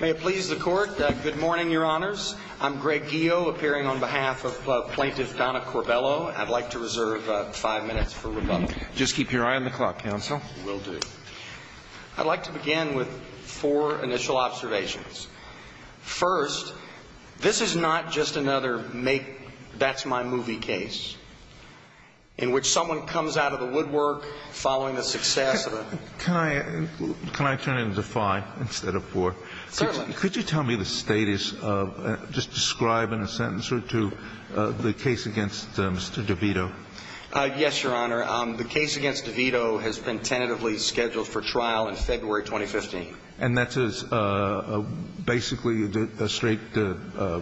May it please the Court. Good morning, Your Honors. I'm Greg Geo, appearing on behalf of Plaintiff Donna Corbello. I'd like to reserve five minutes for rebuttal. Just keep your eye on the clock, Counsel. Will do. I'd like to begin with four initial observations. First, this is not just another make-that's-my-movie case in which someone comes out of the woodwork following the success of a Can I turn it into five instead of four? Certainly. Could you tell me the status of, just describe in a sentence or two, the case against Mr. DeVito? Yes, Your Honor. The case against DeVito has been tentatively scheduled for trial in February 2015. And that's basically a straight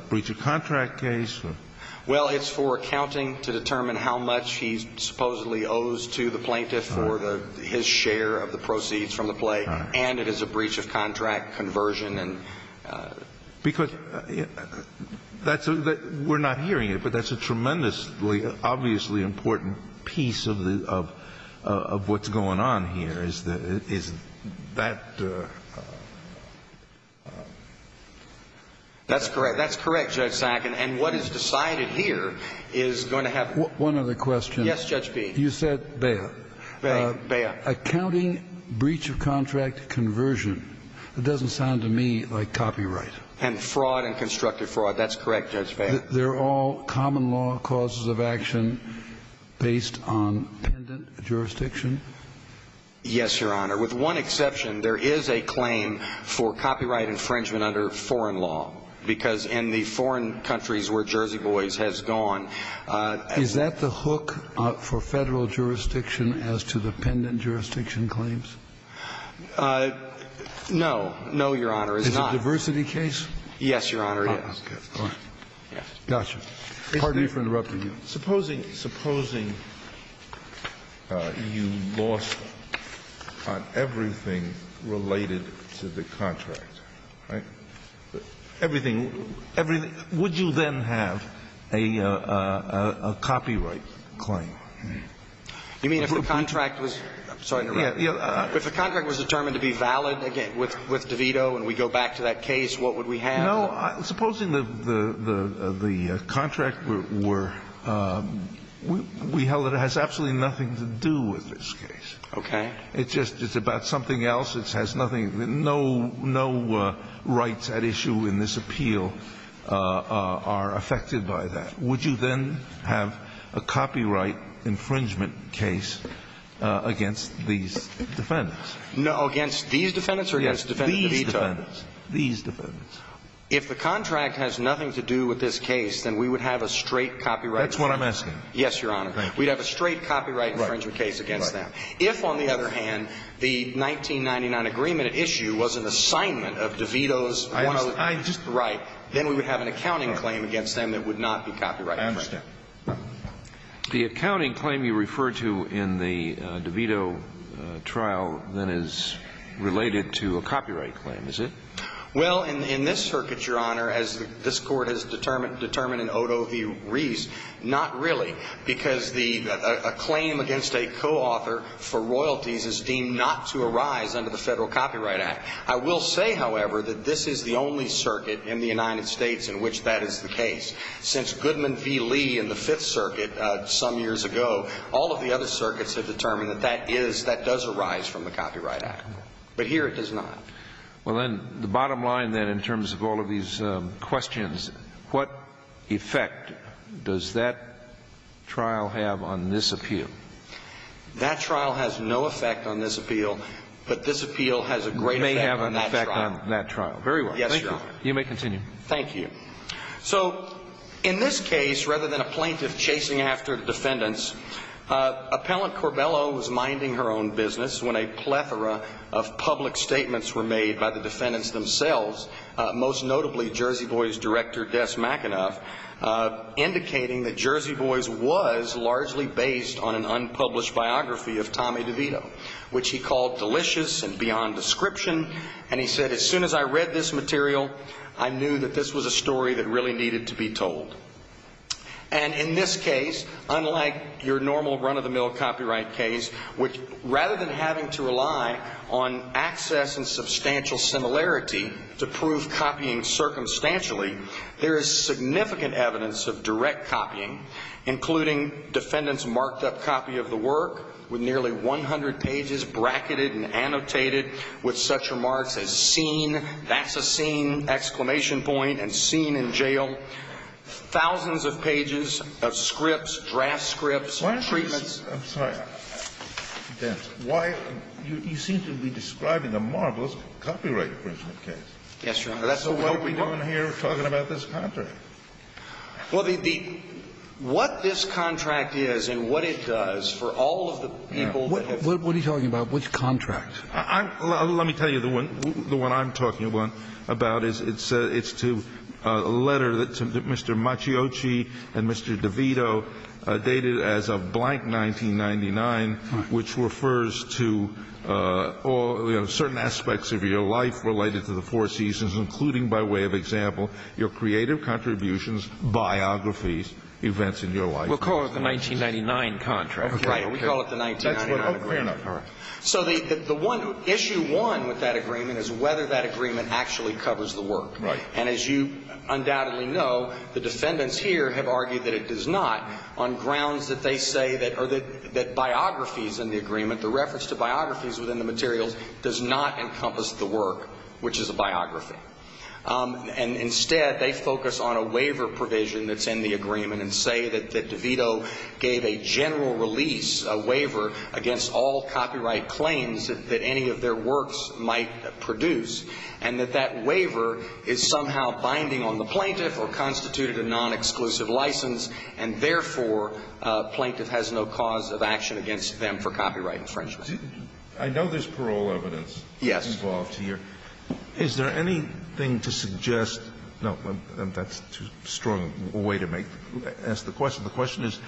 breach of contract case? Well, it's for accounting to determine how much he supposedly owes to the plaintiff for his share of the proceeds from the play. And it is a breach of contract conversion. Because we're not hearing it, but that's a tremendously, obviously important piece of what's going on here. Is that... That's correct. That's correct, Judge Sack. And what is decided here is going to have... One other question. Yes, Judge Peay. You said Baya. Baya. Accounting breach of contract conversion. That doesn't sound to me like copyright. And fraud and constructive fraud. That's correct, Judge Baya. They're all common law causes of action based on pendant jurisdiction? Yes, Your Honor. With one exception, there is a claim for copyright infringement under foreign law. Because in the foreign countries where Jersey Boys has gone... Is that the hook for Federal jurisdiction as to the pendant jurisdiction claims? No. No, Your Honor. It's not. Is it a diversity case? Yes, Your Honor, it is. Okay. All right. Yes. Gotcha. Pardon me for interrupting you. Supposing you lost on everything related to the contract, right? Everything – would you then have a copyright claim? You mean if the contract was... I'm sorry. If the contract was determined to be valid, again, with DeVito and we go back to that case, what would we have? No. Supposing the contract were – we held that it has absolutely nothing to do with this case. Okay. It's just about something else. It has nothing – no rights at issue in this appeal are affected by that. Would you then have a copyright infringement case against these defendants? Against these defendants or against DeVito? These defendants. These defendants. If the contract has nothing to do with this case, then we would have a straight copyright claim. That's what I'm asking. Yes, Your Honor. We'd have a straight copyright infringement case against them. Right. Right. If, on the other hand, the 1999 agreement at issue was an assignment of DeVito's – I understand. Right. Then we would have an accounting claim against them that would not be copyright infringed. I understand. The accounting claim you refer to in the DeVito trial then is related to a copyright claim, is it? Well, in this circuit, Your Honor, as this Court has determined in Odo v. Reese, not really because a claim against a co-author for royalties is deemed not to arise under the Federal Copyright Act. I will say, however, that this is the only circuit in the United States in which that is the case. Since Goodman v. Lee in the Fifth Circuit some years ago, all of the other circuits have determined that that is – that Well, then, the bottom line then in terms of all of these questions, what effect does that trial have on this appeal? That trial has no effect on this appeal, but this appeal has a great effect on that trial. May have an effect on that trial. Very well. Thank you. Yes, Your Honor. You may continue. Thank you. So, in this case, rather than a plaintiff chasing after the defendants, Appellant Corbello was minding her own business when a plethora of public statements were made by the defendants themselves, most notably Jersey Boys director, Des McEnough, indicating that Jersey Boys was largely based on an unpublished biography of Tommy DeVito, which he called delicious and beyond description. And he said, as soon as I read this material, I knew that this was a story that really needed to be told. And in this case, unlike your normal run-of-the-mill copyright case, which rather than having to rely on access and substantial similarity to prove copying circumstantially, there is significant evidence of direct copying, including defendants' marked-up copy of the work with nearly 100 pages bracketed and annotated with such remarks as seen, that's a scene, exclamation point, and seen in jail. Thousands of pages of scripts, draft scripts, treatments. Kennedy, I'm sorry. Why? You seem to be describing a marvelous copyright infringement case. Yes, Your Honor. So what are we doing here talking about this contract? Well, the what this contract is and what it does for all of the people who have What are you talking about? Which contract? Let me tell you the one I'm talking about. It's to a letter that Mr. Maciocci and Mr. DeVito dated as of blank 1999, which refers to certain aspects of your life related to the Four Seasons, including by way of example, your creative contributions, biographies, events in your life. We'll call it the 1999 contract. Okay. We call it the 1999 agreement. Fair enough. All right. So the issue one with that agreement is whether that agreement actually covers the work. Right. And as you undoubtedly know, the defendants here have argued that it does not on grounds that they say that biographies in the agreement, the reference to biographies within the materials does not encompass the work, which is a biography. And instead, they focus on a waiver provision that's in the agreement and say that copyright claims that any of their works might produce, and that that waiver is somehow binding on the plaintiff or constituted a non-exclusive license, and therefore, plaintiff has no cause of action against them for copyright infringement. I know there's parole evidence involved here. Yes. Is there anything to suggest no, that's too strong a way to ask the question. So the question is,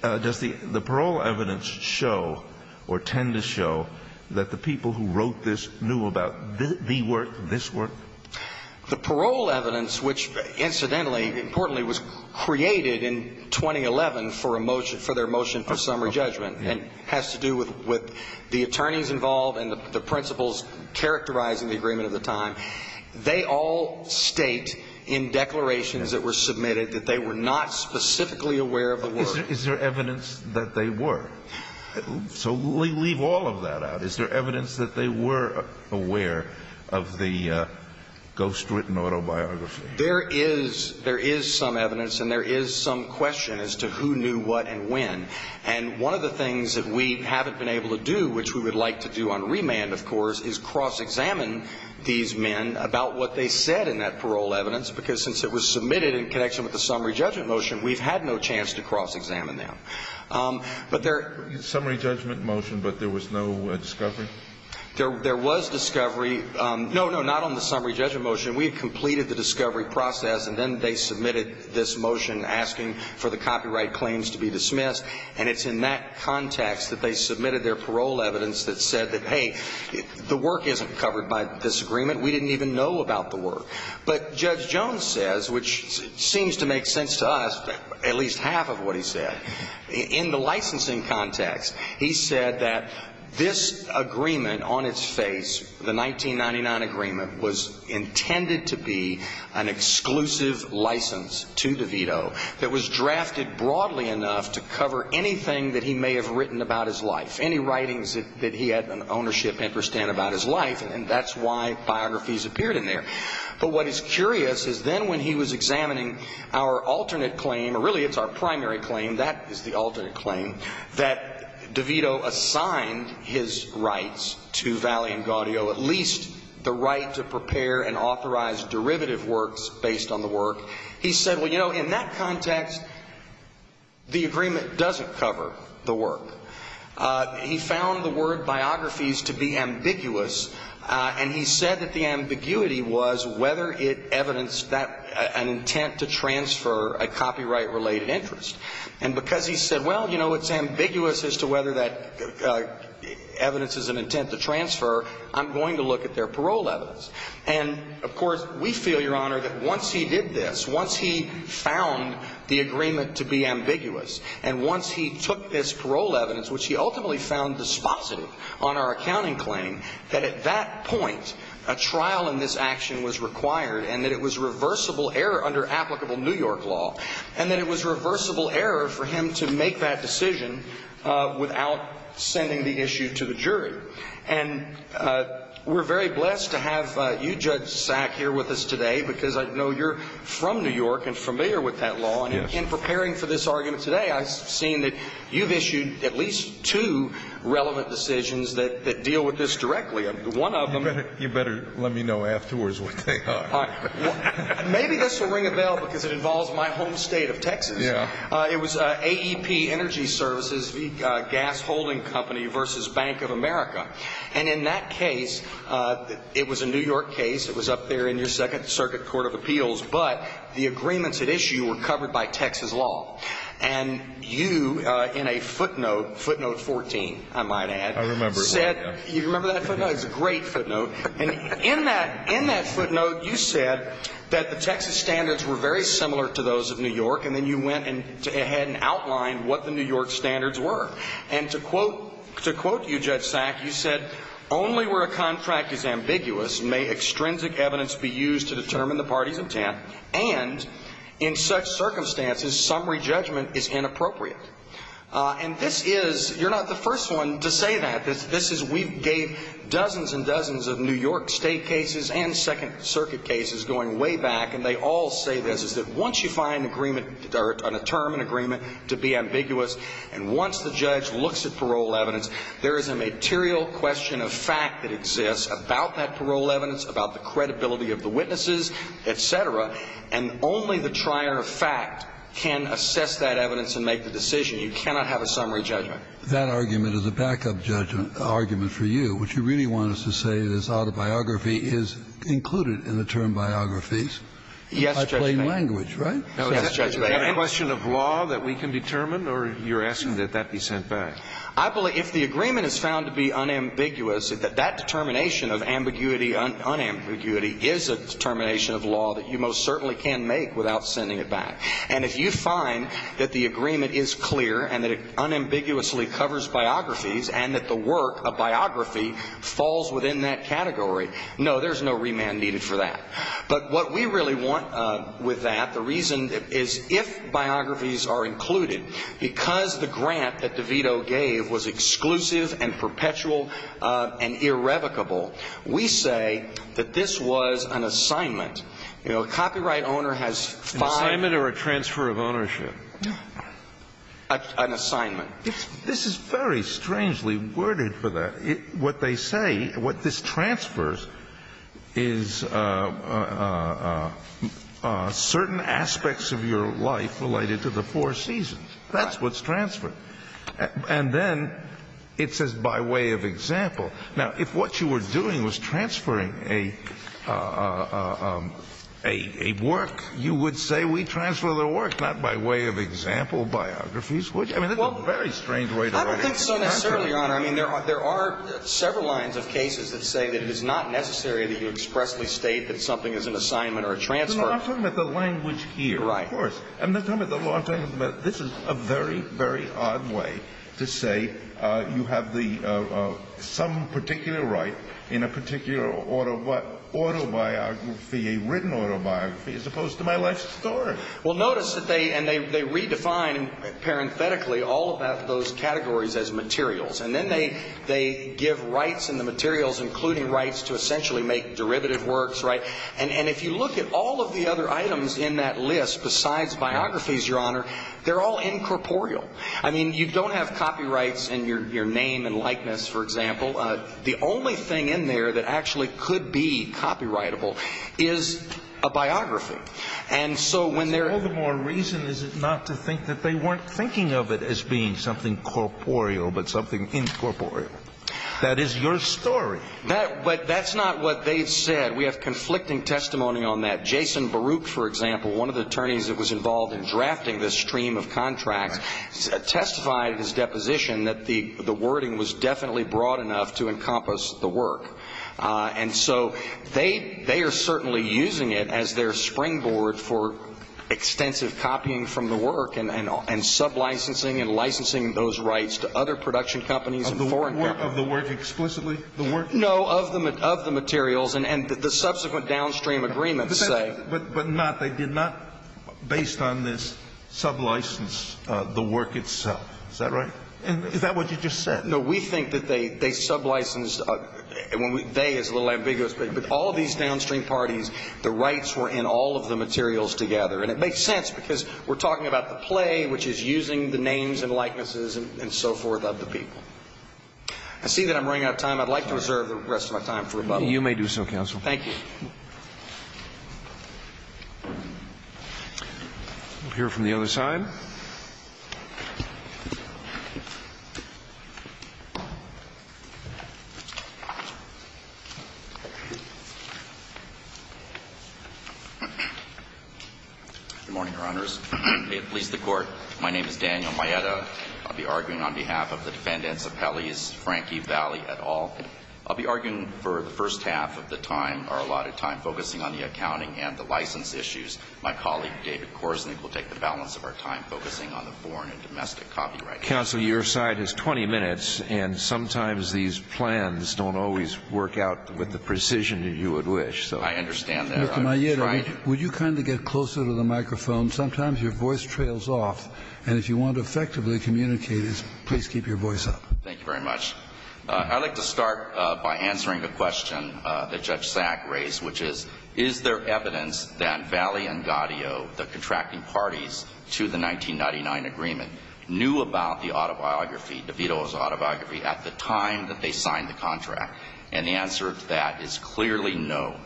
does the parole evidence show or tend to show that the people who wrote this knew about the work, this work? The parole evidence, which incidentally, importantly, was created in 2011 for their motion for summary judgment and has to do with the attorneys involved and the principals characterizing the agreement at the time, they all state in declarations that were aware of the work. Is there evidence that they were? So leave all of that out. Is there evidence that they were aware of the ghostwritten autobiography? There is some evidence, and there is some question as to who knew what and when. And one of the things that we haven't been able to do, which we would like to do on remand, of course, is cross-examine these men about what they said in that parole evidence, because since it was submitted in connection with the summary judgment motion, we've had no chance to cross-examine them. Summary judgment motion, but there was no discovery? There was discovery. No, no, not on the summary judgment motion. We had completed the discovery process, and then they submitted this motion asking for the copyright claims to be dismissed. And it's in that context that they submitted their parole evidence that said that, hey, the work isn't covered by this agreement. We didn't even know about the work. But Judge Jones says, which seems to make sense to us, at least half of what he said, in the licensing context, he said that this agreement on its face, the 1999 agreement, was intended to be an exclusive license to DeVito that was drafted broadly enough to cover anything that he may have written about his life, any writings that he had an ownership interest in about his life, and that's why biographies appeared in there. But what is curious is then when he was examining our alternate claim, or really it's our primary claim, that is the alternate claim, that DeVito assigned his rights to Valle and Gaudio, at least the right to prepare and authorize derivative works based on the work, he said, well, you know, in that context, the agreement doesn't cover the work. He found the word biographies to be ambiguous, and he said that the ambiguity was whether it evidenced an intent to transfer a copyright-related interest. And because he said, well, you know, it's ambiguous as to whether that evidence is an intent to transfer, I'm going to look at their parole evidence. And, of course, we feel, Your Honor, that once he did this, once he found the agreement to be ambiguous, and once he took this parole evidence, which he ultimately found dispositive on our accounting claim, that at that point a trial in this action was required, and that it was reversible error under applicable New York law, and that it was reversible error for him to make that decision without sending the issue to the jury. And we're very blessed to have you, Judge Sack, here with us today because I know you're from New York and familiar with that law. And in preparing for this argument today, I've seen that you've issued at least two relevant decisions that deal with this directly. One of them... You better let me know afterwards what they are. Maybe this will ring a bell because it involves my home state of Texas. It was AEP Energy Services, the gas-holding company, versus Bank of America. And in that case, it was a New York case. It was up there in your Second Circuit Court of Appeals. But the agreements at issue were covered by Texas law. And you, in a footnote, footnote 14, I might add... I remember it well, yeah. You remember that footnote? It was a great footnote. And in that footnote, you said that the Texas standards were very similar to those of New York, and then you went ahead and outlined what the New York standards were. And to quote you, Judge Sack, you said, "...only where a contract is ambiguous may extrinsic evidence be used to determine the party's intent, and in such circumstances summary judgment is inappropriate." And this is... You're not the first one to say that. This is... We gave dozens and dozens of New York state cases and Second Circuit cases going way back, and they all say this, is that once you find an agreement or determine an agreement to be ambiguous, and once the judge looks at parole evidence, there is a material question of fact that exists about that parole evidence, about the credibility of the witnesses, et cetera, and only the trier of fact can assess that evidence and make the decision. You cannot have a summary judgment. That argument is a backup judgment for you, which you really want us to say this autobiography is included in the term biographies. Yes, Judge Bain. By plain language, right? Yes, Judge Bain. Is there a question of law that we can determine, or you're asking that that be sent back? I believe if the agreement is found to be unambiguous, that that determination of ambiguity, unambiguity, is a determination of law that you most certainly can make without sending it back. And if you find that the agreement is clear and that it unambiguously covers biographies and that the work of biography falls within that category, no, there's no remand needed for that. But what we really want with that, the reason is if biographies are included, because the grant that DeVito gave was exclusive and perpetual and irrevocable, we say that this was an assignment. You know, a copyright owner has five. An assignment or a transfer of ownership? An assignment. This is very strangely worded for that. What they say, what this transfers is certain aspects of your life related to the four seasons. That's what's transferred. And then it says by way of example. Now, if what you were doing was transferring a work, you would say we transfer the work, not by way of example, biographies. I mean, that's a very strange way to argue. I don't think so necessarily, Your Honor. I mean, there are several lines of cases that say that it is not necessary that you expressly state that something is an assignment or a transfer. I'm talking about the language here, of course. Right. I'm talking about this is a very, very odd way to say you have some particular right in a particular autobiography, a written autobiography, as opposed to my life story. Well, notice that they redefine parenthetically all about those categories as materials. And then they give rights in the materials, including rights to essentially make derivative works. Right. And if you look at all of the other items in that list besides biographies, Your Honor, they're all incorporeal. I mean, you don't have copyrights in your name and likeness, for example. The only thing in there that actually could be copyrightable is a biography. And so when they're – What's all the more reason is it not to think that they weren't thinking of it as being something corporeal, but something incorporeal? That is your story. But that's not what they've said. We have conflicting testimony on that. Jason Baruch, for example, one of the attorneys that was involved in drafting this stream of contracts, testified in his deposition that the wording was definitely broad enough to encompass the work. And so they are certainly using it as their springboard for extensive copying from the work and sublicensing and licensing those rights to other production companies and foreign companies. Of the work explicitly? No, of the materials and the subsequent downstream agreements, say. But not – they did not, based on this, sublicense the work itself. Is that right? Is that what you just said? No, we think that they sublicensed – they is a little ambiguous, but all these downstream parties, the rights were in all of the materials together. And it makes sense because we're talking about the play, which is using the names and likenesses and so forth of the people. I see that I'm running out of time. I'd like to reserve the rest of my time for rebuttal. You may do so, counsel. Thank you. We'll hear from the other side. Good morning, Your Honors. May it please the Court. My name is Daniel Maeda. I'll be arguing on behalf of the defendants of Pelley's Frankie Valley et al. I'll be arguing for the first half of the time, our allotted time, focusing on the accounting and the license issues. My colleague, David Korsnick, will take the balance of our time focusing on the foreign and domestic copyright. Counsel, your side has 20 minutes, and sometimes these plans don't always work out with the precision that you would wish, so. I understand that. Mr. Maeda, would you kindly get closer to the microphone? Sometimes your voice trails off, and if you want to effectively communicate this, please keep your voice up. Thank you very much. I'd like to start by answering a question that Judge Sack raised, which is, is there evidence that Valley and Gaudio, the contracting parties to the 1999 agreement, knew about the autobiography, DeVito's autobiography, at the time that they signed the contract? And the answer to that is clearly no.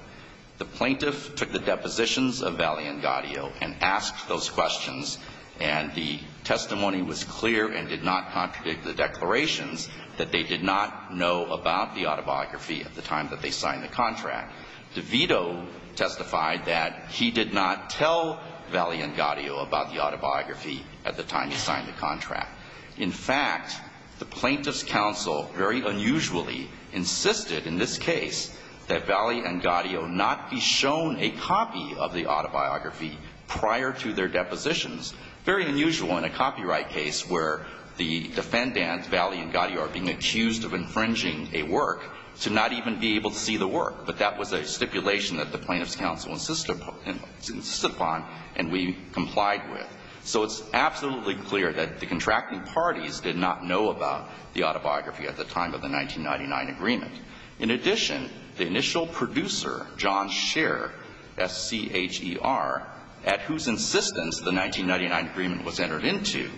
The plaintiff took the depositions of Valley and Gaudio and asked those questions, and the testimony was clear and did not contradict the declarations that they did not know about the autobiography at the time that they signed the contract. DeVito testified that he did not tell Valley and Gaudio about the autobiography at the time he signed the contract. In fact, the plaintiff's counsel very unusually insisted in this case that Valley and Gaudio not be shown a copy of the autobiography prior to their depositions very unusual in a copyright case where the defendant, Valley and Gaudio, are being accused of infringing a work to not even be able to see the work. But that was a stipulation that the plaintiff's counsel insisted upon and we complied with. So it's absolutely clear that the contracting parties did not know about the autobiography at the time of the 1999 agreement. In addition, the initial producer, John Scher, S-C-H-E-R, at whose insistence the 1999 agreement was entered into,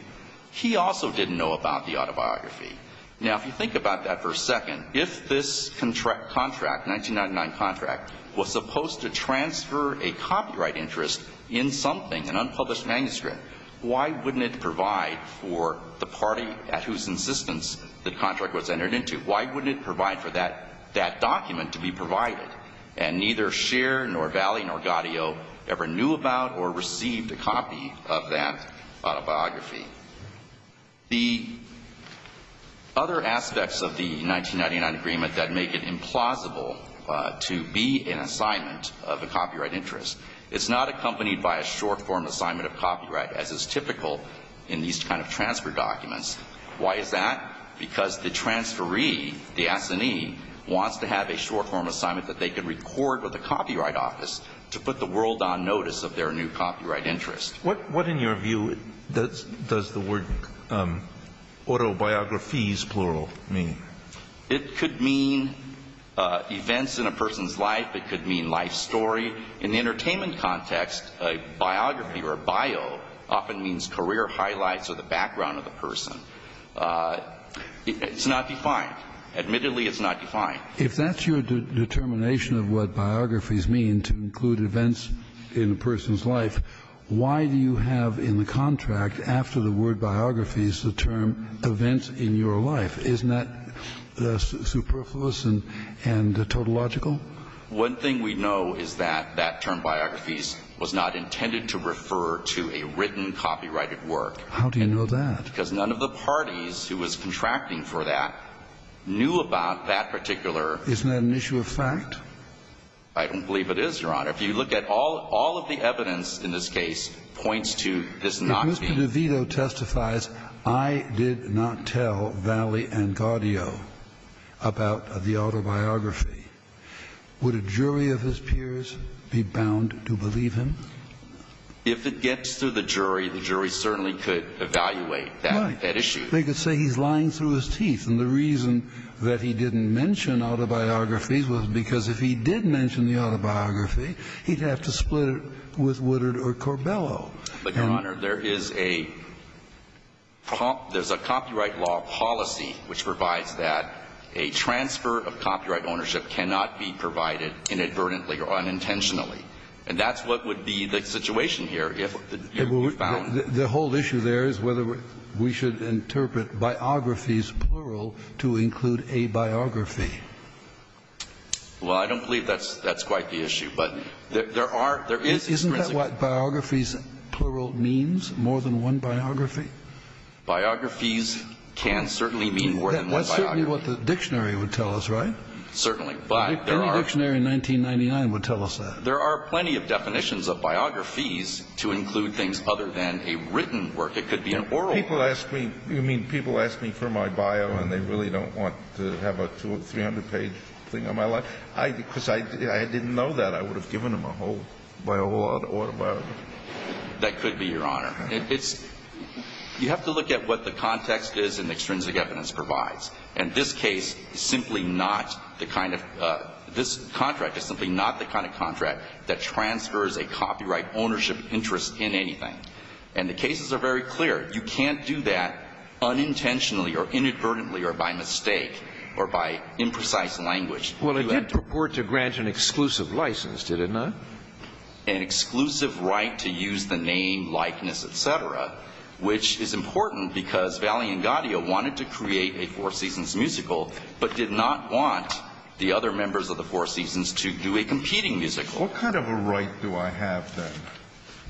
he also didn't know about the autobiography. Now, if you think about that for a second, if this contract, 1999 contract, was supposed to transfer a copyright interest in something, an unpublished manuscript, why wouldn't it provide for the party at whose insistence the contract was entered into? Why wouldn't it provide for that document to be provided? And neither Scher nor Valley nor Gaudio ever knew about or received a copy of that autobiography. The other aspects of the 1999 agreement that make it implausible to be an assignment of a copyright interest, it's not accompanied by a short-form assignment of copyright as is typical in these kind of transfer documents. Why is that? Because the transferee, the assignee, wants to have a short-form assignment that they can record with a copyright office to put the world on notice of their new copyright interest. What, in your view, does the word autobiographies plural mean? It could mean events in a person's life. It could mean life story. In the entertainment context, a biography or a bio often means career highlights or the background of the person. It's not defined. Admittedly, it's not defined. If that's your determination of what biographies mean, to include events in a person's life, why do you have in the contract after the word biographies the term events in your life? Isn't that superfluous and tautological? One thing we know is that that term biographies was not intended to refer to a written copyrighted work. How do you know that? Because none of the parties who was contracting for that knew about that particular Isn't that an issue of fact? I don't believe it is, Your Honor. If you look at all of the evidence in this case points to this not being If Mr. DeVito testifies, I did not tell Valli and Gaudio about the autobiography, would a jury of his peers be bound to believe him? If it gets to the jury, the jury certainly could evaluate that issue. They could say he's lying through his teeth. And the reason that he didn't mention autobiographies was because if he did mention the autobiography, he'd have to split it with Woodard or Corbello. But, Your Honor, there is a copyright law policy which provides that a transfer of copyright ownership cannot be provided inadvertently or unintentionally. And that's what would be the situation here if you found The whole issue there is whether we should interpret biographies plural to include a biography. Well, I don't believe that's quite the issue. But there are Isn't that what biographies plural means, more than one biography? Biographies can certainly mean more than one biography. That's certainly what the dictionary would tell us, right? Certainly. Any dictionary in 1999 would tell us that. There are plenty of definitions of biographies to include things other than a written work. It could be an oral People ask me. You mean people ask me for my bio and they really don't want to have a 300-page thing on my life? Because I didn't know that. I would have given them a whole autobiography. That could be, Your Honor. You have to look at what the context is and the extrinsic evidence provides. And this case is simply not the kind of This contract is simply not the kind of contract that transfers a copyright ownership interest in anything. And the cases are very clear. You can't do that unintentionally or inadvertently or by mistake or by imprecise language. Well, it did purport to grant an exclusive license, did it not? An exclusive right to use the name, likeness, et cetera, which is important because Valli and Gaudio wanted to create a Four Seasons musical but did not want the other members of the Four Seasons to do a competing musical. What kind of a right do I have then?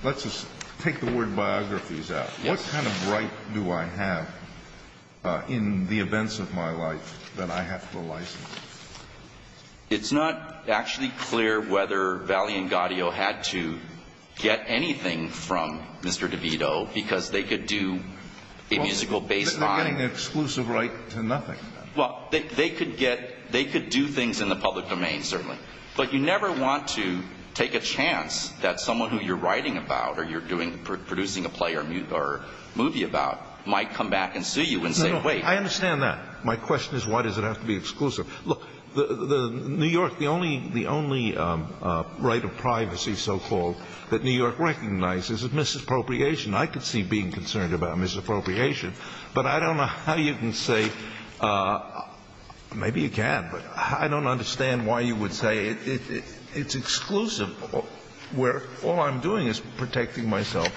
Let's just take the word biographies out. What kind of right do I have in the events of my life that I have to license? It's not actually clear whether Valli and Gaudio had to get anything from Mr. DeVito because they could do a musical based on They're getting an exclusive right to nothing. Well, they could do things in the public domain, certainly. But you never want to take a chance that someone who you're writing about or you're producing a play or movie about might come back and sue you and say, wait. I understand that. My question is why does it have to be exclusive? Look, New York, the only right of privacy, so-called, that New York recognizes is misappropriation. I could see being concerned about misappropriation. But I don't know how you can say, maybe you can, but I don't understand why you would say it's exclusive where all I'm doing is protecting myself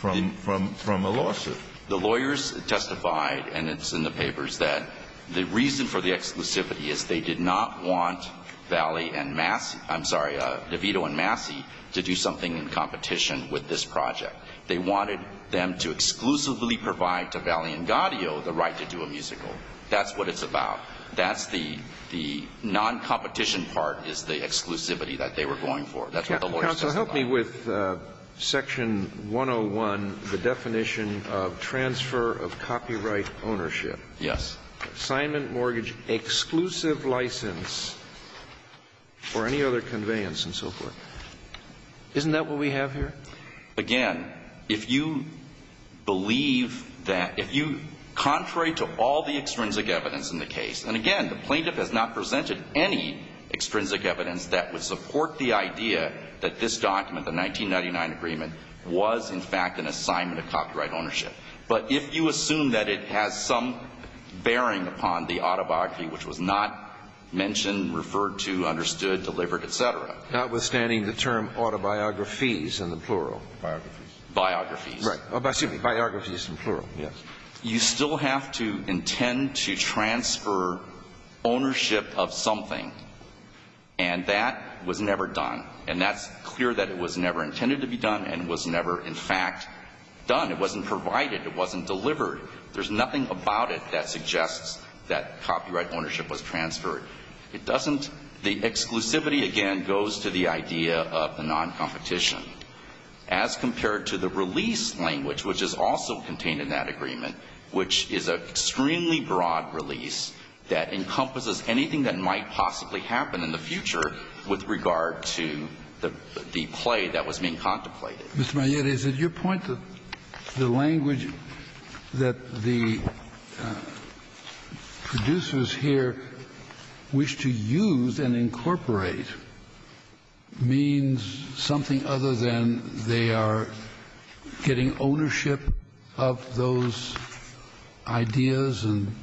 from a lawsuit. The lawyers testified, and it's in the papers, that the reason for the exclusivity is they did not want Valli and Massey, I'm sorry, DeVito and Massey to do something in competition with this project. They wanted them to exclusively provide to Valli and Gaudio the right to do a musical. That's what it's about. That's the non-competition part is the exclusivity that they were going for. That's what the lawyers testified about. Counsel, help me with Section 101, the definition of transfer of copyright ownership. Yes. Assignment mortgage exclusive license for any other conveyance and so forth. Isn't that what we have here? Again, if you believe that, if you, contrary to all the extrinsic evidence in the case, and again, the plaintiff has not presented any extrinsic evidence that would support the idea that this document, the 1999 agreement, was, in fact, an assignment of copyright ownership. But if you assume that it has some bearing upon the autobiography, which was not mentioned, referred to, understood, delivered, et cetera. Notwithstanding the term autobiographies in the plural. Biographies. Biographies. Right. Excuse me, biographies in plural. Yes. You still have to intend to transfer ownership of something, and that was never done. And that's clear that it was never intended to be done and was never, in fact, done. It wasn't provided. It wasn't delivered. There's nothing about it that suggests that copyright ownership was transferred. It doesn't. The exclusivity, again, goes to the idea of the noncompetition, as compared to the release language, which is also contained in that agreement, which is an extremely broad release that encompasses anything that might possibly happen in the future with regard to the play that was being contemplated. Mr. Maillet, is it your point that the language that the producers here wish to use and incorporate means something other than they are getting ownership of those ideas and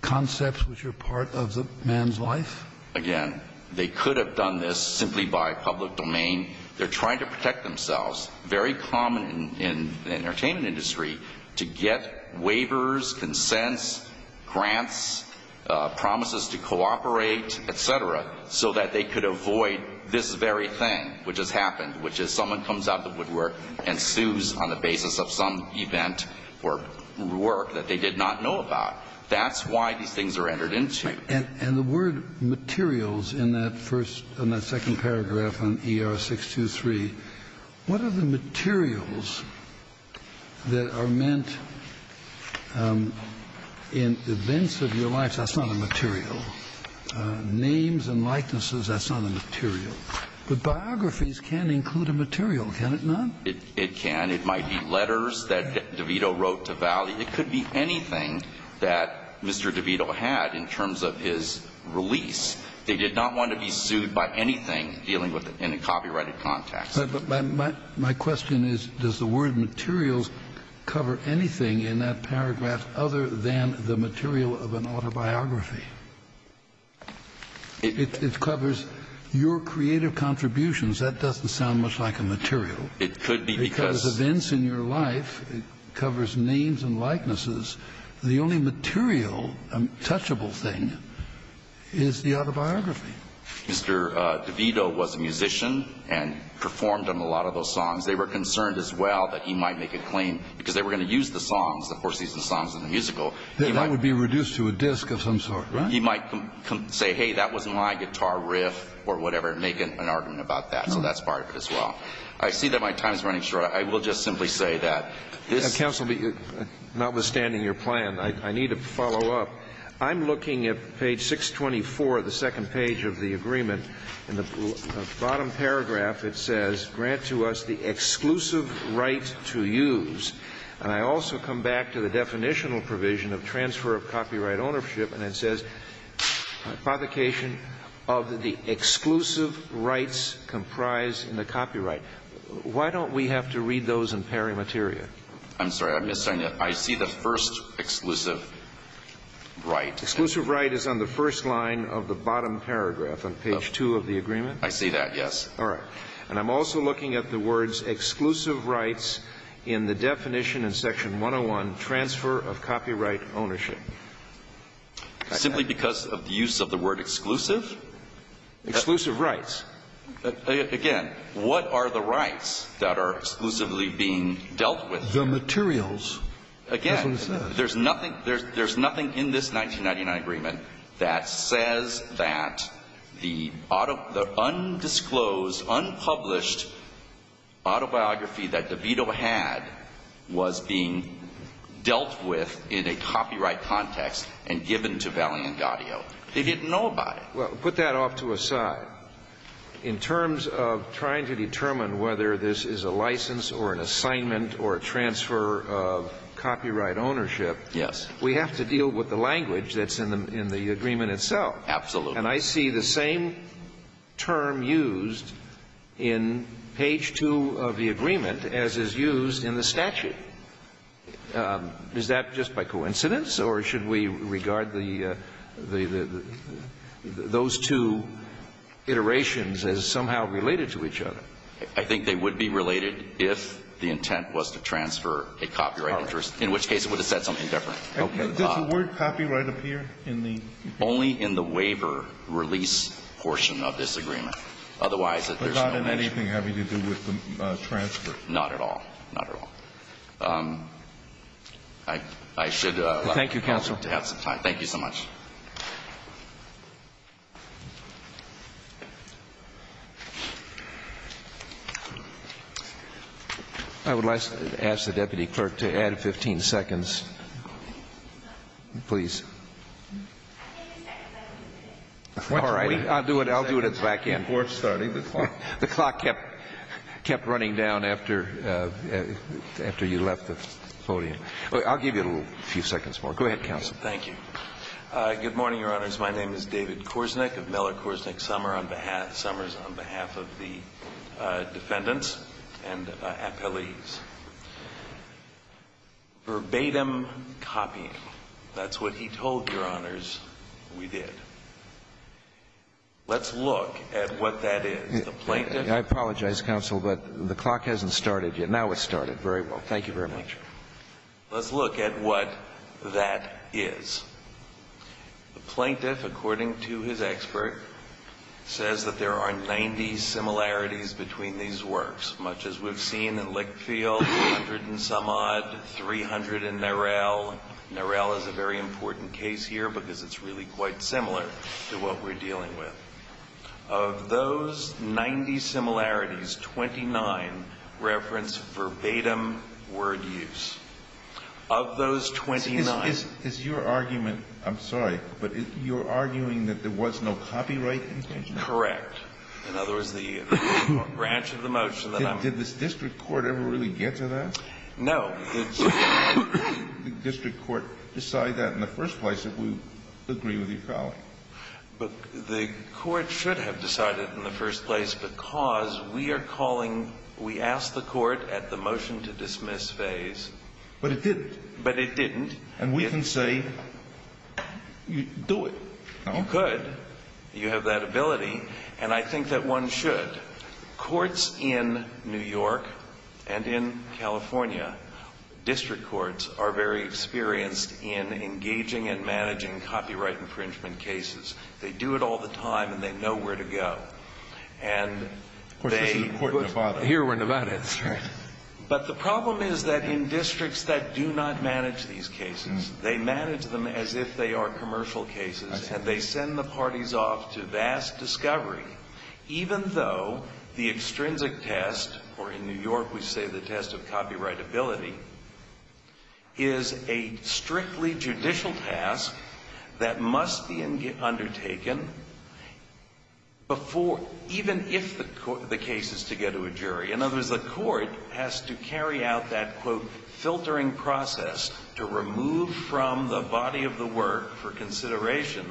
concepts which are part of the man's life? Again, they could have done this simply by public domain. They're trying to protect themselves, very common in the entertainment industry, to get waivers, consents, grants, promises to cooperate, et cetera, so that they could avoid this very thing which has happened, which is someone comes out of the woodwork and sues on the basis of some event or work that they did not know about. That's why these things are entered into. And the word materials in that first, in that second paragraph on ER 623, what are the materials that are meant in events of your life? That's not a material. Names and likenesses, that's not a material. But biographies can include a material, can it not? It can. It might be letters that DeVito wrote to Valley. It could be anything that Mr. DeVito had in terms of his release. They did not want to be sued by anything dealing with it in a copyrighted context. Kennedy. But my question is, does the word materials cover anything in that paragraph other than the material of an autobiography? It covers your creative contributions. That doesn't sound much like a material. It could be because of events in your life. It covers names and likenesses. The only material, touchable thing is the autobiography. Mr. DeVito was a musician and performed on a lot of those songs. They were concerned as well that he might make a claim, because they were going to use the songs, the four-season songs in the musical. That would be reduced to a disc of some sort, right? He might say, hey, that was my guitar riff or whatever, make an argument about that. So that's part of it as well. I see that my time is running short. I will just simply say that this ---- Counsel, notwithstanding your plan, I need to follow up. I'm looking at page 624, the second page of the agreement. In the bottom paragraph, it says, Grant to us the exclusive right to use. And I also come back to the definitional provision of transfer of copyright ownership, and it says, Provocation of the exclusive rights comprised in the copyright. Why don't we have to read those in pari materia? I'm sorry. I'm missing it. I see the first exclusive right. Exclusive right is on the first line of the bottom paragraph on page 2 of the agreement. I see that, yes. All right. And I'm also looking at the words exclusive rights in the definition in section 101, transfer of copyright ownership. Simply because of the use of the word exclusive? Exclusive rights. Again, what are the rights that are exclusively being dealt with? The materials. Again, there's nothing in this 1999 agreement that says that the undisclosed, unpublished autobiography that DeVito had was being dealt with in a copyright context and given to Valle and Gaudio. They didn't know about it. Well, put that off to a side. In terms of trying to determine whether this is a license or an assignment or a transfer of copyright ownership. Yes. We have to deal with the language that's in the agreement itself. Absolutely. And I see the same term used in page 2 of the agreement as is used in the statute. Is that just by coincidence? Or should we regard those two iterations as somehow related to each other? I think they would be related if the intent was to transfer a copyright interest, in which case it would have said something different. Does the word copyright appear in the? Only in the waiver release portion of this agreement. But not in anything having to do with the transfer? Not at all. Not at all. I should like to have some time. Thank you, counsel. Thank you so much. I would like to ask the deputy clerk to add 15 seconds, please. All right. I'll do it. I'll do it at the back end. The clock kept running down after you left the podium. I'll give you a few seconds more. Go ahead, counsel. Thank you. Good morning, Your Honors. My name is David Korsnick of Miller Korsnick Summers on behalf of the defendants and appellees. Verbatim copying. That's what he told Your Honors we did. Let's look at what that is. The plaintiff. I apologize, counsel, but the clock hasn't started yet. Now it's started. Very well. Thank you very much. Let's look at what that is. The plaintiff, according to his expert, says that there are 90 similarities between these works, much as we've seen in Lickfield, 100 in Sumod, 300 in Narell. Narell is a very important case here because it's really quite similar to what we're dealing with. Of those 90 similarities, 29 reference verbatim word use. Of those 29. Is your argument, I'm sorry, but you're arguing that there was no copyright infringement? Correct. In other words, the branch of the motion that I'm. Did the district court ever really get to that? No. Did the district court decide that in the first place if we agree with your colleague? The court should have decided in the first place because we are calling. We asked the court at the motion to dismiss phase. But it didn't. But it didn't. And we can say you do it. You could. You have that ability. And I think that one should. Courts in New York and in California, district courts are very experienced in engaging and managing copyright infringement cases. They do it all the time and they know where to go. And they. Of course, this is a court in Nevada. Here we're in Nevada. That's right. But the problem is that in districts that do not manage these cases, they manage them as if they are commercial cases. I see. Even though the extrinsic test, or in New York we say the test of copyrightability, is a strictly judicial task that must be undertaken before. Even if the case is to get to a jury. In other words, the court has to carry out that, quote, filtering process to remove from the body of the work for consideration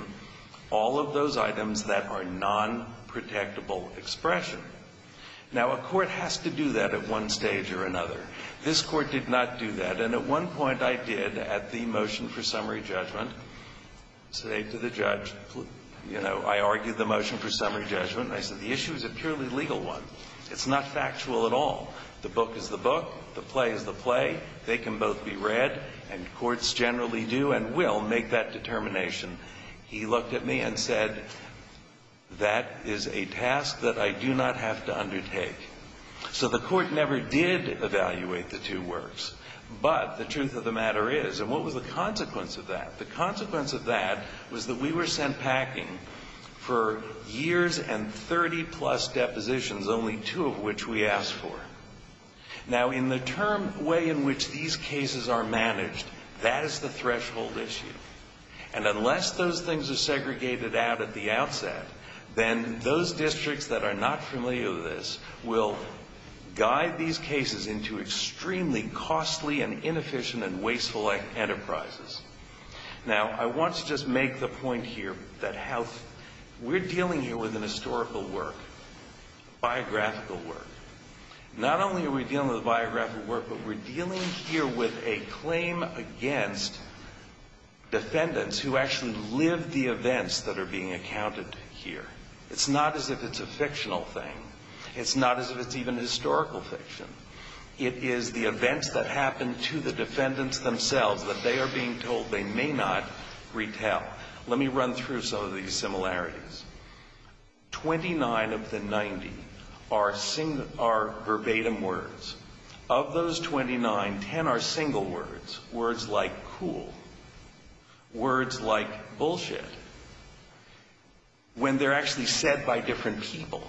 all of those items that are nonprotectable expression. Now, a court has to do that at one stage or another. This Court did not do that. And at one point I did at the motion for summary judgment say to the judge, you know, I argued the motion for summary judgment. And I said the issue is a purely legal one. It's not factual at all. The book is the book. The play is the play. They can both be read. And courts generally do and will make that determination. He looked at me and said, that is a task that I do not have to undertake. So the court never did evaluate the two works. But the truth of the matter is, and what was the consequence of that? The consequence of that was that we were sent packing for years and 30-plus depositions, only two of which we asked for. Now, in the term way in which these cases are managed, that is the threshold issue. And unless those things are segregated out at the outset, then those districts that are not familiar with this will guide these cases into extremely costly and inefficient and wasteful enterprises. Now, I want to just make the point here that we're dealing here with an historical work, a biographical work. Not only are we dealing with a biographical work, but we're dealing here with a claim against defendants who actually lived the events that are being accounted here. It's not as if it's a fictional thing. It's not as if it's even historical fiction. It is the events that happened to the defendants themselves that they are being told they may not retell. Let me run through some of these similarities. 29 of the 90 are verbatim words. Of those 29, 10 are single words, words like cool, words like bullshit, when they're actually said by different people.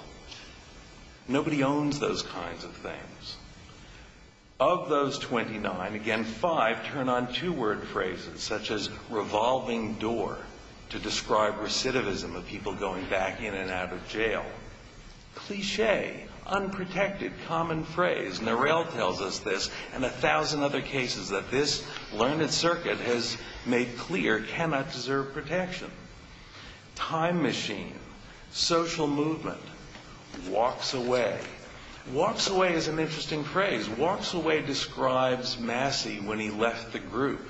Nobody owns those kinds of things. Of those 29, again, five turn on two-word phrases such as revolving door to describe recidivism of people going back in and out of jail. Cliche, unprotected, common phrase. Norell tells us this and a thousand other cases that this learned circuit has made clear cannot deserve protection. Time machine, social movement, walks away. Walks away is an interesting phrase. Walks away describes Massey when he left the group.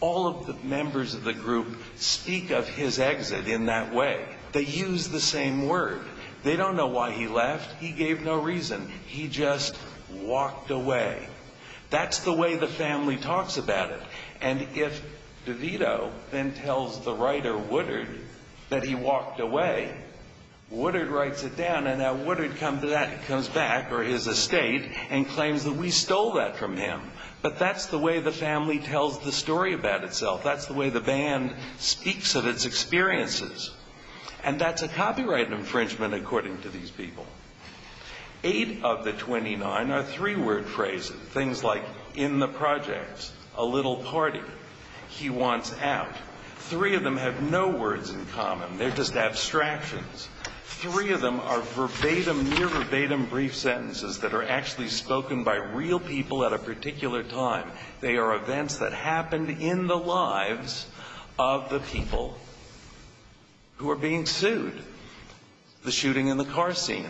All of the members of the group speak of his exit in that way. They use the same word. They don't know why he left. He gave no reason. He just walked away. That's the way the family talks about it. And if DeVito then tells the writer Woodard that he walked away, Woodard writes it down and now Woodard comes back or his estate and claims that we stole that from him. But that's the way the family tells the story about itself. That's the way the band speaks of its experiences. And that's a copyright infringement according to these people. Eight of the 29 are three-word phrases, things like in the projects, a little party, he wants out. Three of them have no words in common. They're just abstractions. Three of them are verbatim, near verbatim brief sentences that are actually spoken by real people at a particular time. They are events that happened in the lives of the people who are being sued. The shooting in the car scene.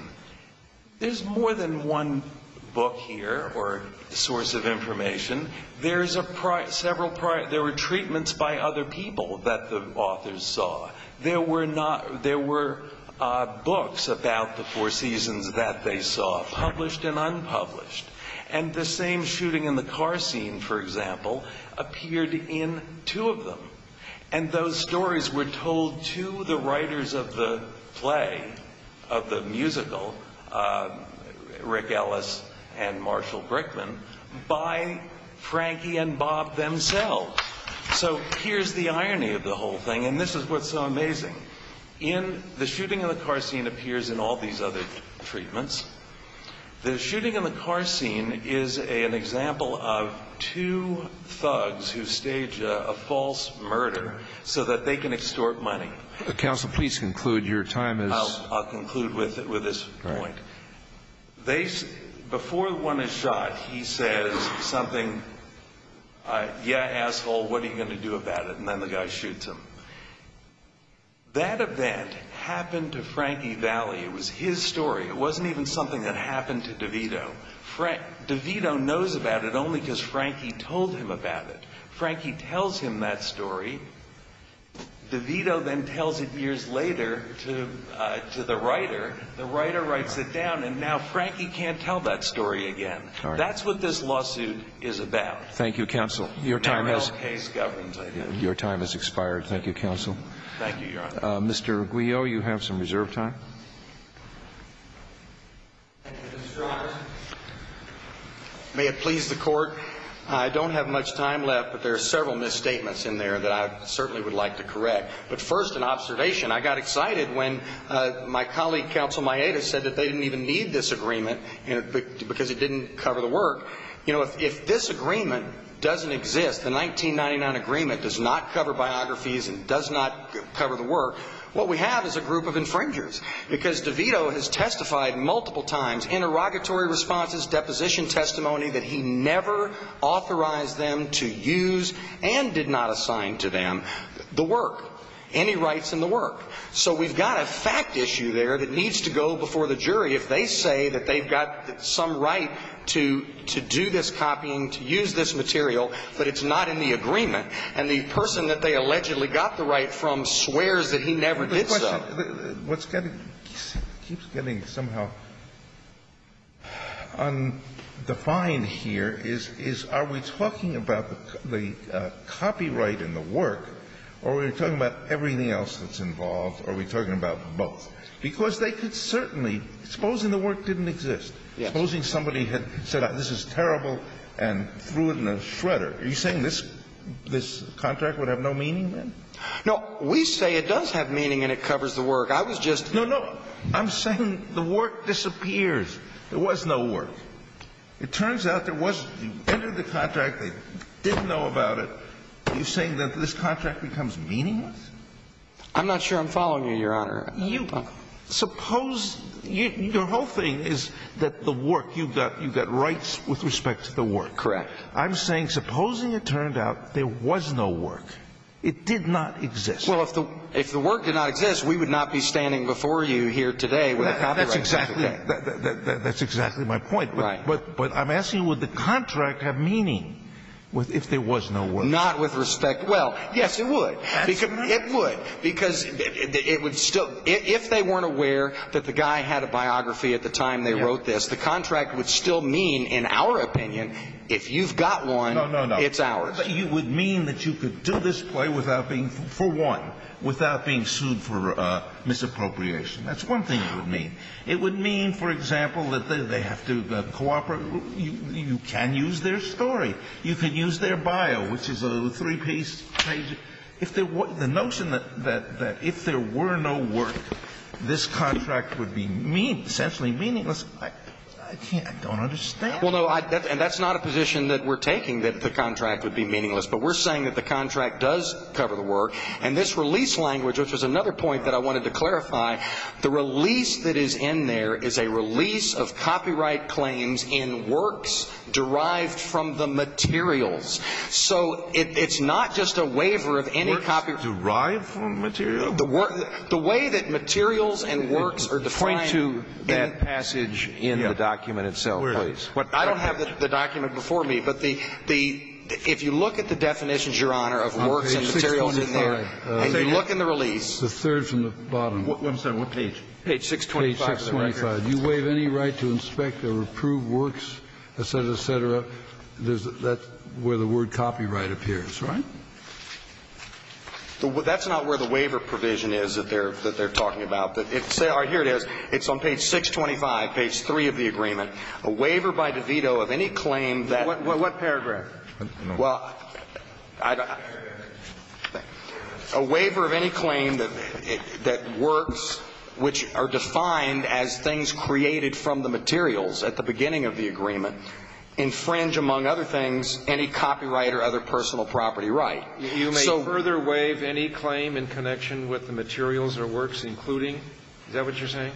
There's more than one book here or source of information. There were treatments by other people that the authors saw. There were books about the Four Seasons that they saw, published and unpublished. And the same shooting in the car scene, for example, appeared in two of them. And those stories were told to the writers of the play, of the musical, Rick Ellis and Marshall Brickman, by Frankie and Bob themselves. So here's the irony of the whole thing and this is what's so amazing. In the shooting in the car scene appears in all these other treatments. The shooting in the car scene is an example of two thugs who stage a false murder so that they can extort money. Counsel, please conclude. Your time is... I'll conclude with this point. Before one is shot, he says something, yeah, asshole, what are you going to do about it? And then the guy shoots him. That event happened to Frankie Valli. It was his story. It wasn't even something that happened to DeVito. DeVito knows about it only because Frankie told him about it. Frankie tells him that story. DeVito then tells it years later to the writer. The writer writes it down and now Frankie can't tell that story again. That's what this lawsuit is about. Thank you, counsel. Your time has expired. Thank you, counsel. Thank you, Your Honor. Mr. Aguillo, you have some reserve time. Thank you, Mr. Congressman. May it please the Court, I don't have much time left, but there are several misstatements in there that I certainly would like to correct. But first an observation. I got excited when my colleague, Counsel Maeda, said that they didn't even need this agreement because it didn't cover the work. If this agreement doesn't exist, the 1999 agreement does not cover biographies and does not cover the work, what we have is a group of infringers. Because DeVito has testified multiple times in interrogatory responses, deposition testimony, that he never authorized them to use and did not assign to them the work, any rights in the work. So we've got a fact issue there that needs to go before the jury if they say that they've got some right to do this copying, to use this material, but it's not in the agreement. And the person that they allegedly got the right from swears that he never did so. Now, what's getting, keeps getting somehow undefined here is, is are we talking about the copyright in the work or are we talking about everything else that's involved or are we talking about both? Because they could certainly, supposing the work didn't exist, supposing somebody had said this is terrible and threw it in a shredder. Are you saying this, this contract would have no meaning then? No. We say it does have meaning and it covers the work. I was just. No, no. I'm saying the work disappears. There was no work. It turns out there wasn't. You entered the contract. They didn't know about it. Are you saying that this contract becomes meaningless? I'm not sure I'm following you, Your Honor. You, suppose, your whole thing is that the work, you've got rights with respect to the work. Correct. I'm saying supposing it turned out there was no work. It did not exist. Well, if the work did not exist, we would not be standing before you here today with a copyright. That's exactly my point. Right. But I'm asking would the contract have meaning if there was no work? Not with respect. Well, yes, it would. It would because it would still, if they weren't aware that the guy had a biography at the time they wrote this, the contract would still mean, in our opinion, if you've got one, it's ours. You would mean that you could do this play without being, for one, without being sued for misappropriation. That's one thing it would mean. It would mean, for example, that they have to cooperate. You can use their story. You could use their bio, which is a three-piece page. If there were, the notion that if there were no work, this contract would be essentially meaningless, I don't understand. Well, no, and that's not a position that we're taking, that the contract would be meaningless. But we're saying that the contract does cover the work. And this release language, which was another point that I wanted to clarify, the release that is in there is a release of copyright claims in works derived from the materials. So it's not just a waiver of any copyright. Works derived from material? The way that materials and works are defined. Point to that passage in the document itself, please. I don't have the document before me, but if you look at the definitions, Your Honor, of works and materials in there, and you look in the release. It's the third from the bottom. I'm sorry. What page? Page 625. Page 625. You waive any right to inspect or approve works, et cetera, et cetera, that's where the word copyright appears. That's right. That's not where the waiver provision is that they're talking about. Here it is. It's on page 625, page 3 of the agreement. A waiver by DeVito of any claim that. What paragraph? Well, I don't know. A waiver of any claim that works, which are defined as things created from the materials at the beginning of the agreement, infringe, among other things, any copyright or other personal property right. You may further waive any claim in connection with the materials or works including? Is that what you're saying?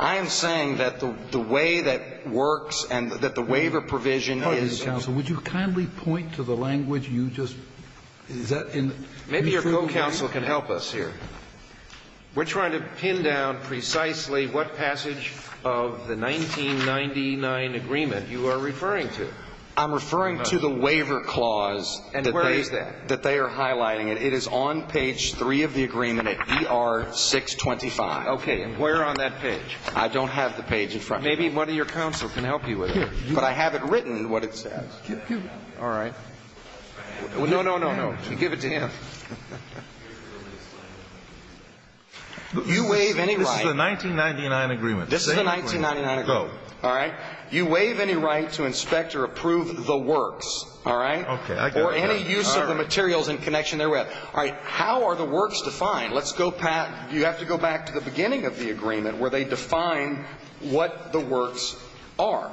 I am saying that the way that works and that the waiver provision is. Pardon me, counsel. Would you kindly point to the language you just? Is that in? Maybe your co-counsel can help us here. We're trying to pin down precisely what passage of the 1999 agreement you are referring to. I'm referring to the waiver clause. And where is that? That they are highlighting. It is on page 3 of the agreement at ER 625. Okay. And where on that page? I don't have the page in front. Maybe one of your counsel can help you with it. But I have it written what it says. All right. No, no, no, no. Give it to him. You waive any right. This is the 1999 agreement. This is the 1999 agreement. All right. You waive any right to inspect or approve the works. All right. Or any use of the materials in connection therewith. All right. How are the works defined? Let's go back. You have to go back to the beginning of the agreement where they define what the works are.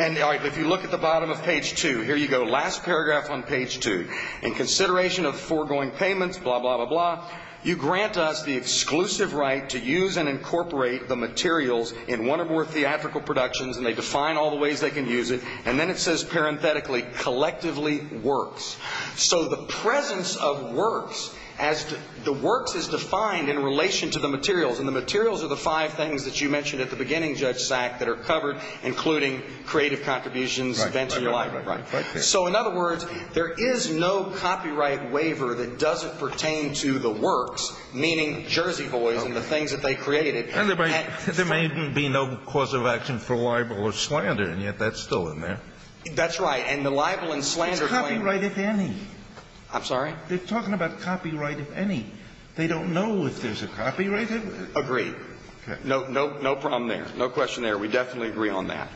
And if you look at the bottom of page 2, here you go. Last paragraph on page 2. In consideration of foregoing payments, blah, blah, blah, blah, you grant us the exclusive right to use and incorporate the materials in one or more theatrical productions. And they define all the ways they can use it. And then it says, parenthetically, collectively works. So the presence of works as the works is defined in relation to the materials. And the materials are the five things that you mentioned at the beginning, Judge Sack, that are covered, including creative contributions, events in your life. Right, right, right. So, in other words, there is no copyright waiver that doesn't pertain to the works, meaning Jersey Boys and the things that they created. And there may be no cause of action for libel or slander, and yet that's still in there. That's right. And the libel and slander claim. Copyright, if any. I'm sorry? They're talking about copyright, if any. They don't know if there's a copyright. Agree. Okay. No problem there. No question there. We definitely agree on that.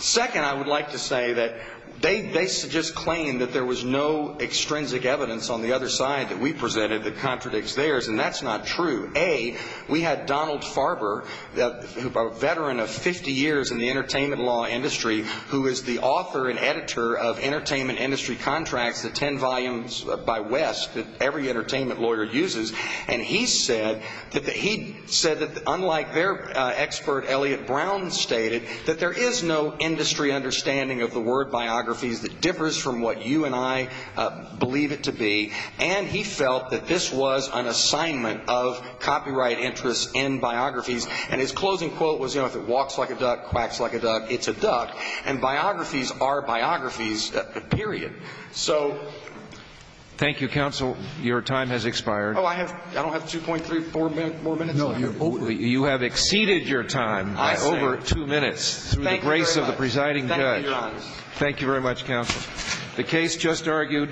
Second, I would like to say that they just claim that there was no extrinsic evidence on the other side that we presented that contradicts theirs, and that's not true. A, we had Donald Farber, a veteran of 50 years in the entertainment law industry, who is the author and editor of Entertainment Industry Contracts, the ten volumes by West that every entertainment lawyer uses, and he said that unlike their expert, Elliot Brown, stated that there is no industry understanding of the word biographies that differs from what you and I believe it to be, and he felt that this was an assignment of copyright interests in biographies. And his closing quote was, you know, if it walks like a duck, quacks like a duck, it's a duck, and biographies are biographies, period. So... Thank you, counsel. Your time has expired. Oh, I don't have 2.34 more minutes? No. You have exceeded your time by over two minutes, through the grace of the presiding judge. Thank you very much. Thank you, Your Honor. Thank you. Thank you. Thank you. Thank you. Thank you. Thank you. Thank you.